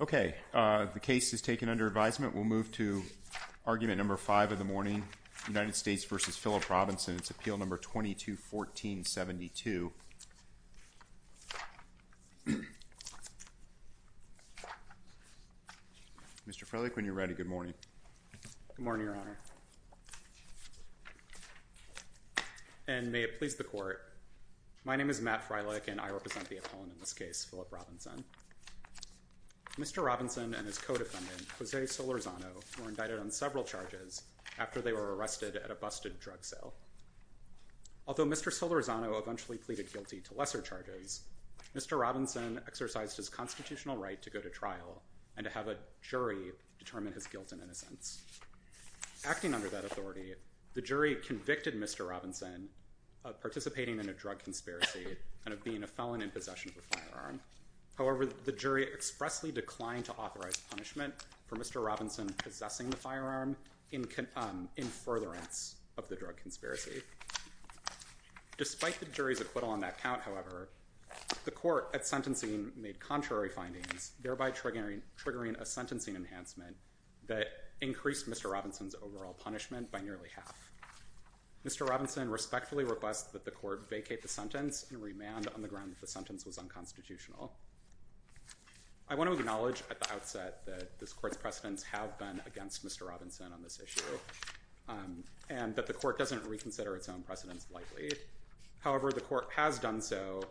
Okay, the case is taken under advisement. We'll move to argument number five of the morning, United States v. Phillip Robinson. It's appeal number 22-14-72. Mr. Freilich, when you're ready, good morning. And may it please the court, my name is Matt Freilich and I represent the appellant in this case, Phillip Robinson. Mr. Robinson and his co-defendant, Jose Solorzano, were indicted on several charges after they were arrested at a busted drug sale. Although Mr. Solorzano eventually pleaded guilty to lesser charges, Mr. Robinson exercised his constitutional right to go to trial and to have a jury determine his guilt and innocence. Acting under that authority, the jury convicted Mr. Robinson of participating in a drug conspiracy and of being a felon in possession of a firearm. However, the jury expressly declined to authorize punishment for Mr. Robinson possessing the firearm in furtherance of the drug conspiracy. Despite the jury's acquittal on that count, however, the court at sentencing made contrary findings, thereby triggering a sentencing enhancement that increased Mr. Robinson's overall punishment by nearly half. Mr. Robinson respectfully requests that the court vacate the sentence and remand on the grounds that the sentence was unconstitutional. I want to acknowledge at the outset that this court's precedents have been against Mr. Robinson on this issue and that the court doesn't reconsider its own precedents lightly. However, the court has done so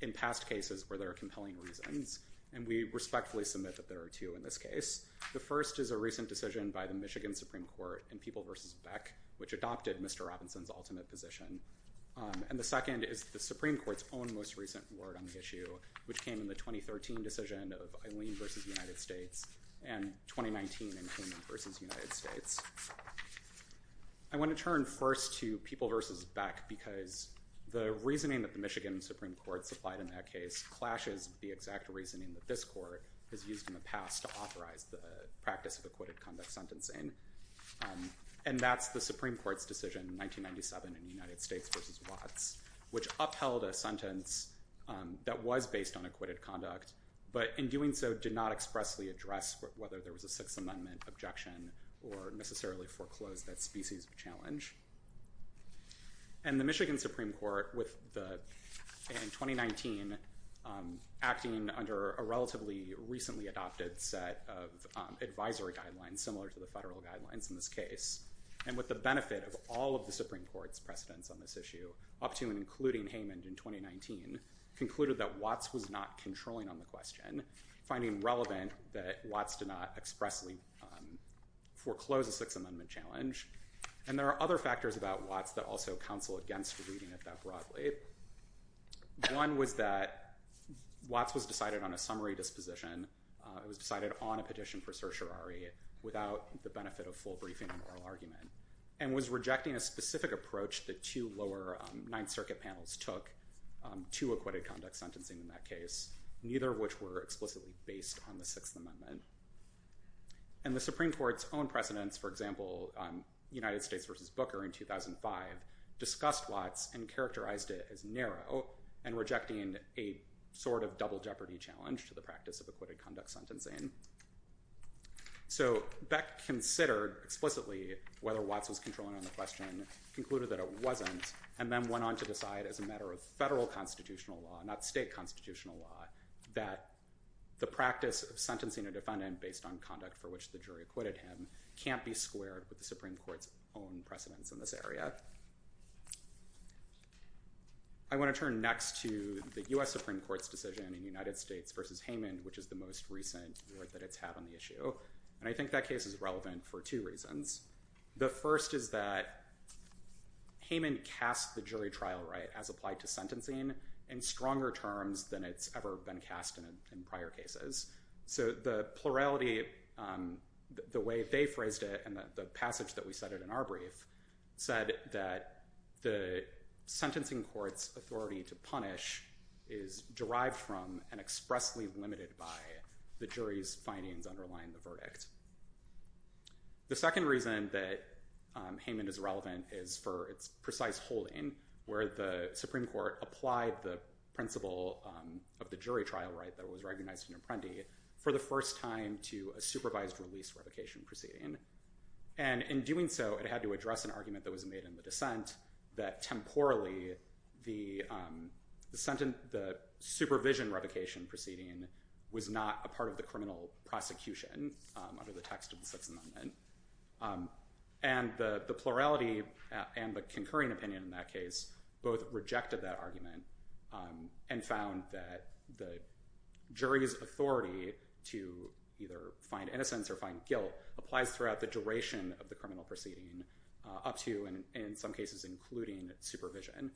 in past cases where there are compelling reasons, and we respectfully submit that there are two in this case. The first is a recent decision by the Michigan Supreme Court in People v. Beck, which adopted Mr. Robinson's ultimate position. And the second is the Supreme Court's own most recent word on the issue, which came in the 2013 decision of Eileen v. United States, and 2019 in Hayman v. United States. I want to turn first to People v. Beck because the reasoning that the Michigan Supreme Court supplied in that case clashes with the exact reasoning that this court has used in the past to authorize the practice of acquitted conduct sentencing. And that's the Supreme Court's decision in 1997 in United States v. Watts, which upheld a sentence that was based on acquitted conduct, but in doing so did not expressly address whether there was a Sixth Amendment objection or necessarily foreclosed that species of challenge. And the Michigan Supreme Court, in 2019, acting under a relatively recently adopted set of advisory guidelines similar to the federal guidelines in this case, and with the benefit of all of the Supreme Court's precedents on this issue, up to and including Hayman in 2019, concluded that Watts was not controlling on the question, finding relevant that Watts did not expressly foreclose a Sixth Amendment challenge. And there are other factors about Watts that also counsel against reading it that broadly. One was that Watts was decided on a summary disposition. It was decided on a petition for certiorari without the benefit of full briefing and oral argument, and was rejecting a specific approach that two lower Ninth Circuit panels took to acquitted conduct sentencing in that case, neither of which were explicitly based on the Sixth Amendment. And the Supreme Court's own precedents, for example, United States v. Booker in 2005, discussed Watts and characterized it as narrow and rejecting a sort of double jeopardy challenge to the practice of acquitted conduct sentencing. So Beck considered explicitly whether Watts was controlling on the question, concluded that it wasn't, and then went on to decide as a matter of federal constitutional law, not state constitutional law, that the practice of sentencing a defendant based on conduct for which the jury acquitted him can't be squared with the Supreme Court's own precedents in this area. I want to turn next to the U.S. Supreme Court's decision in United States v. Heyman, which is the most recent that it's had on the issue. And I think that case is relevant for two reasons. The first is that Heyman cast the jury trial right as applied to sentencing in stronger terms than it's ever been cast in prior cases. So the plurality, the way they phrased it and the passage that we cited in our brief said that the sentencing court's authority to punish is derived from and expressly limited by the jury's findings underlying the verdict. The second reason that Heyman is relevant is for its precise holding where the Supreme Court applied the principle of the jury trial right that was recognized in Apprendi for the first time to a supervised release revocation proceeding. And in doing so, it had to address an argument that was made in the dissent that temporally the supervision revocation proceeding was not a part of the criminal prosecution under the text of the Sixth Amendment. And the plurality and the concurring opinion in that case both rejected that argument and found that the jury's authority to either find innocence or find guilt applies throughout the duration of the criminal proceeding up to and in some cases including supervision.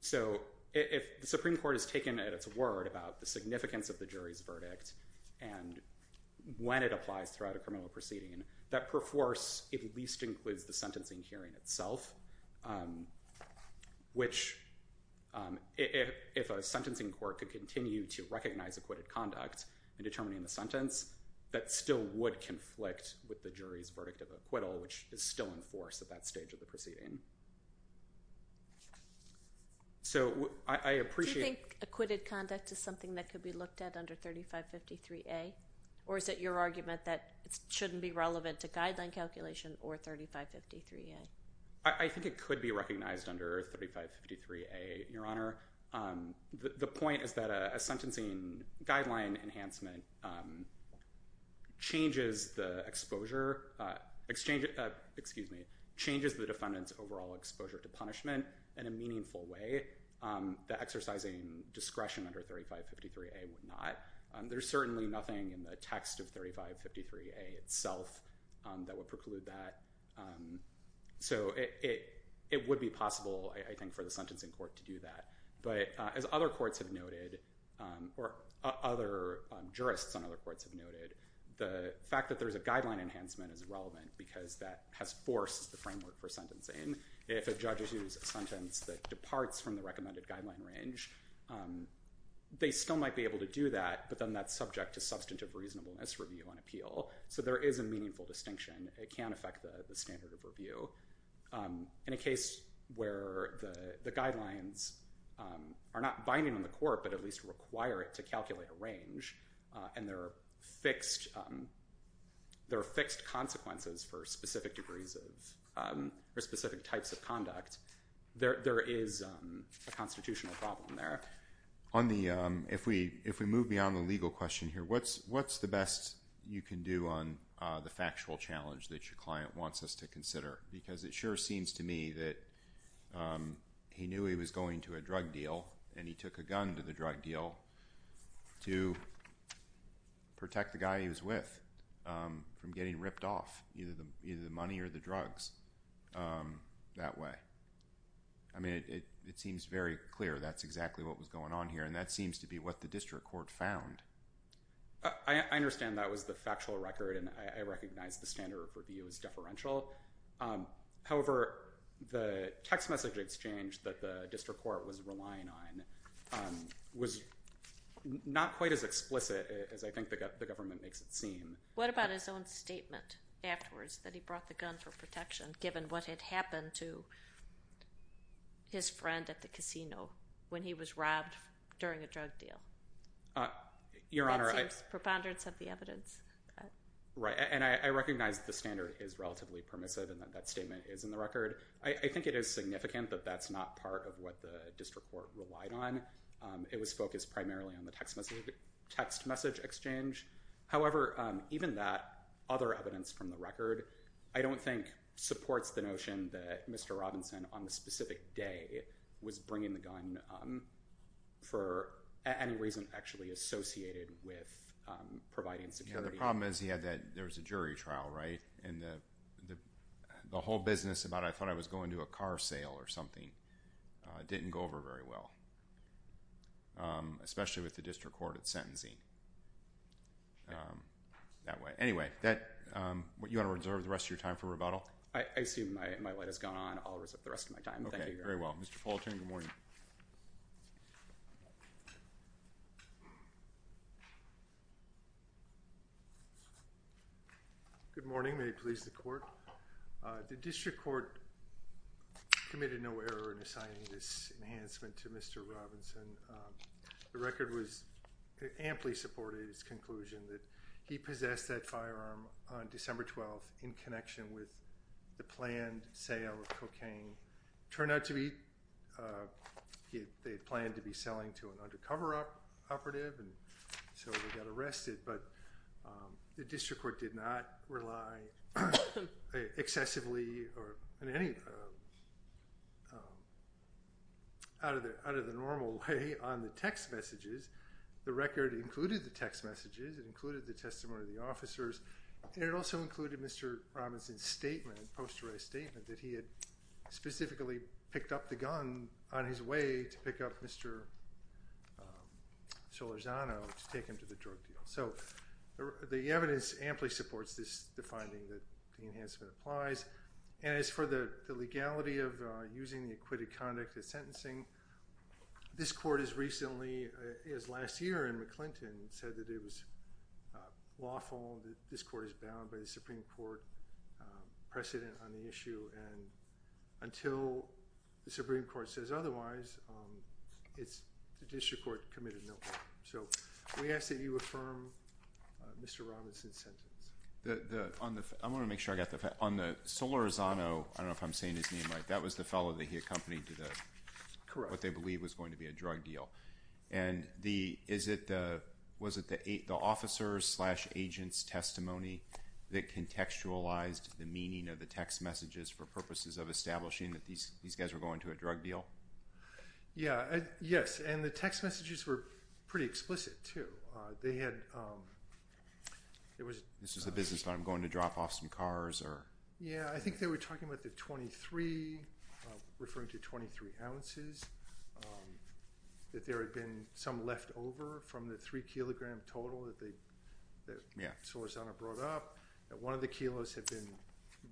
So if the Supreme Court has taken at its word about the significance of the jury's verdict and when it applies throughout a criminal proceeding, that perforce at least includes the sentencing hearing itself, which if a sentencing court could continue to recognize acquitted conduct in determining the sentence, that still would conflict with the jury's verdict of acquittal, which is still in force at that stage of the proceeding. So I appreciate... Do you think acquitted conduct is something that could be looked at under 3553A? Or is it your argument that it shouldn't be relevant to guideline calculation or 3553A? I think it could be recognized under 3553A, Your Honor. The point is that a sentencing guideline enhancement changes the exposure... Excuse me. Changes the defendant's overall exposure to punishment in a meaningful way. The exercising discretion under 3553A would not. There's certainly nothing in the text of 3553A itself that would preclude that. So it would be possible, I think, for the sentencing court to do that. But as other courts have noted, or other jurists on other courts have noted, the fact that there's a guideline enhancement is relevant because that has forced the framework for sentencing. If a judge issues a sentence that departs from the recommended guideline range, they still might be able to do that, but then that's subject to substantive reasonableness review and appeal. So there is a meaningful distinction. It can affect the standard of review. In a case where the guidelines are not binding on the court, but at least require it to calculate a range, and there are fixed consequences for specific degrees of or specific types of conduct, there is a constitutional problem there. If we move beyond the legal question here, what's the best you can do on the factual challenge that your client wants us to consider? Because it sure seems to me that he knew he was going to a drug deal, and he took a gun to the drug deal to protect the guy he was with from getting ripped off, either the money or the drugs, that way. I mean, it seems very clear that's exactly what was going on here, and that seems to be what the district court found. I understand that was the factual record, and I recognize the standard of review is deferential. However, the text message exchange that the district court was relying on was not quite as explicit as I think the government makes it seem. What about his own statement afterwards that he brought the gun for protection, given what had happened to his friend at the casino when he was robbed during a drug deal? That seems preponderance of the evidence. Right, and I recognize the standard is relatively permissive, and that statement is in the record. I think it is significant, but that's not part of what the district court relied on. It was focused primarily on the text message exchange. However, even that, other evidence from the record, I don't think supports the notion that Mr. Robinson on the specific day was bringing the gun for any reason actually associated with providing security. Yeah, the problem is he had that, there was a jury trial, right? And the whole business about, I thought I was going to a car sale or something, didn't go over very well, especially with the district court at sentencing. That way. Anyway, you want to reserve the rest of your time for rebuttal? I assume my light has gone on. I'll reserve the rest of my time. Okay, very well. Mr. Fulton, good morning. Good morning. May it please the court. The district court committed no error in assigning this enhancement to Mr. Robinson. The record was, it amply supported his conclusion that he possessed that firearm on December 12th in connection with the planned sale of cocaine. Turned out to be, they had planned to be selling to an undercover operative, and so they got arrested. But the district court did not rely excessively or in any out of the normal way on the text messages. The record included the text messages. It included the testimony of the officers. And it also included Mr. Robinson's statement, a posterized statement, that he had specifically picked up the gun on his way to pick up Mr. Solorzano to take him to the drug deal. So the evidence amply supports this, the finding that the enhancement applies. And as for the legality of using the acquitted conduct at sentencing, this court has recently, as last year in McClinton, said that it was lawful, that this court is bound by the Supreme Court precedent on the issue. And until the Supreme Court says otherwise, it's, the district court committed no error. So we ask that you affirm Mr. Robinson's sentence. On the, I want to make sure I got the, on the Solorzano, I don't know if I'm saying his name right, that was the fellow that he accompanied to the, what they believed was going to be a drug deal. And the, is it the, was it the officer's slash agent's testimony that contextualized the meaning of the text messages for purposes of establishing that these guys were going to a drug deal? Yeah, yes, and the text messages were pretty explicit too. They had, it was. This is a business, but I'm going to drop off some cars or. Yeah, I think they were talking about the 23, referring to 23 ounces, that there had been some leftover from the three kilogram total that they, that Solorzano brought up, that one of the kilos had been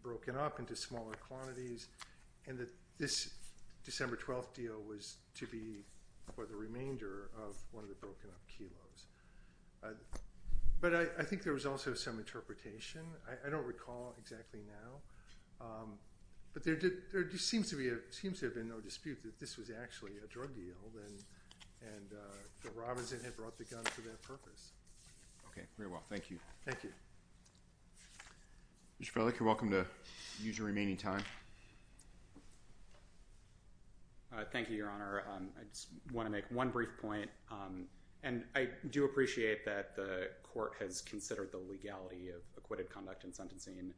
broken up into smaller quantities. And that this December 12th deal was to be for the remainder of one of the broken up kilos. But I think there was also some interpretation. I don't recall exactly now. But there did, there just seems to be a, seems to have been no dispute that this was actually a drug deal. And that Robinson had brought the gun for that purpose. Okay, very well, thank you. Thank you. Mr. Frelick, you're welcome to use your remaining time. Thank you, Your Honor. I just want to make one brief point. And I do appreciate that the court has considered the legality of acquitted conduct in sentencing.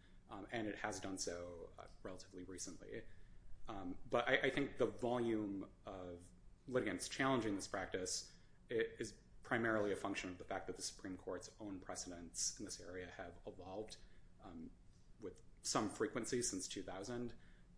And it has done so relatively recently. But I think the volume of litigants challenging this practice is primarily a function of the fact that the Supreme Court's own precedents in this area have evolved with some frequency since 2000.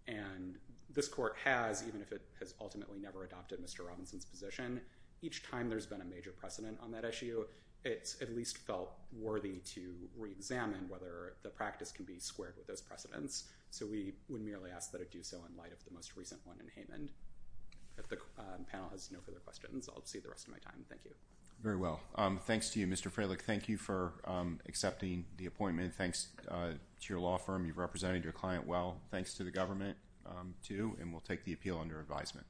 And this court has, even if it has ultimately never adopted Mr. Robinson's position, each time there's been a major precedent on that issue, it's at least felt worthy to reexamine whether the practice can be squared with those precedents. So we would merely ask that it do so in light of the most recent one in Haymond. If the panel has no further questions, I'll just save the rest of my time. Thank you. Very well. Thanks to you, Mr. Frelick. Thank you for accepting the appointment. Thanks to your law firm. You've represented your client well. Thanks to the government, too. And we'll take the appeal under advisement.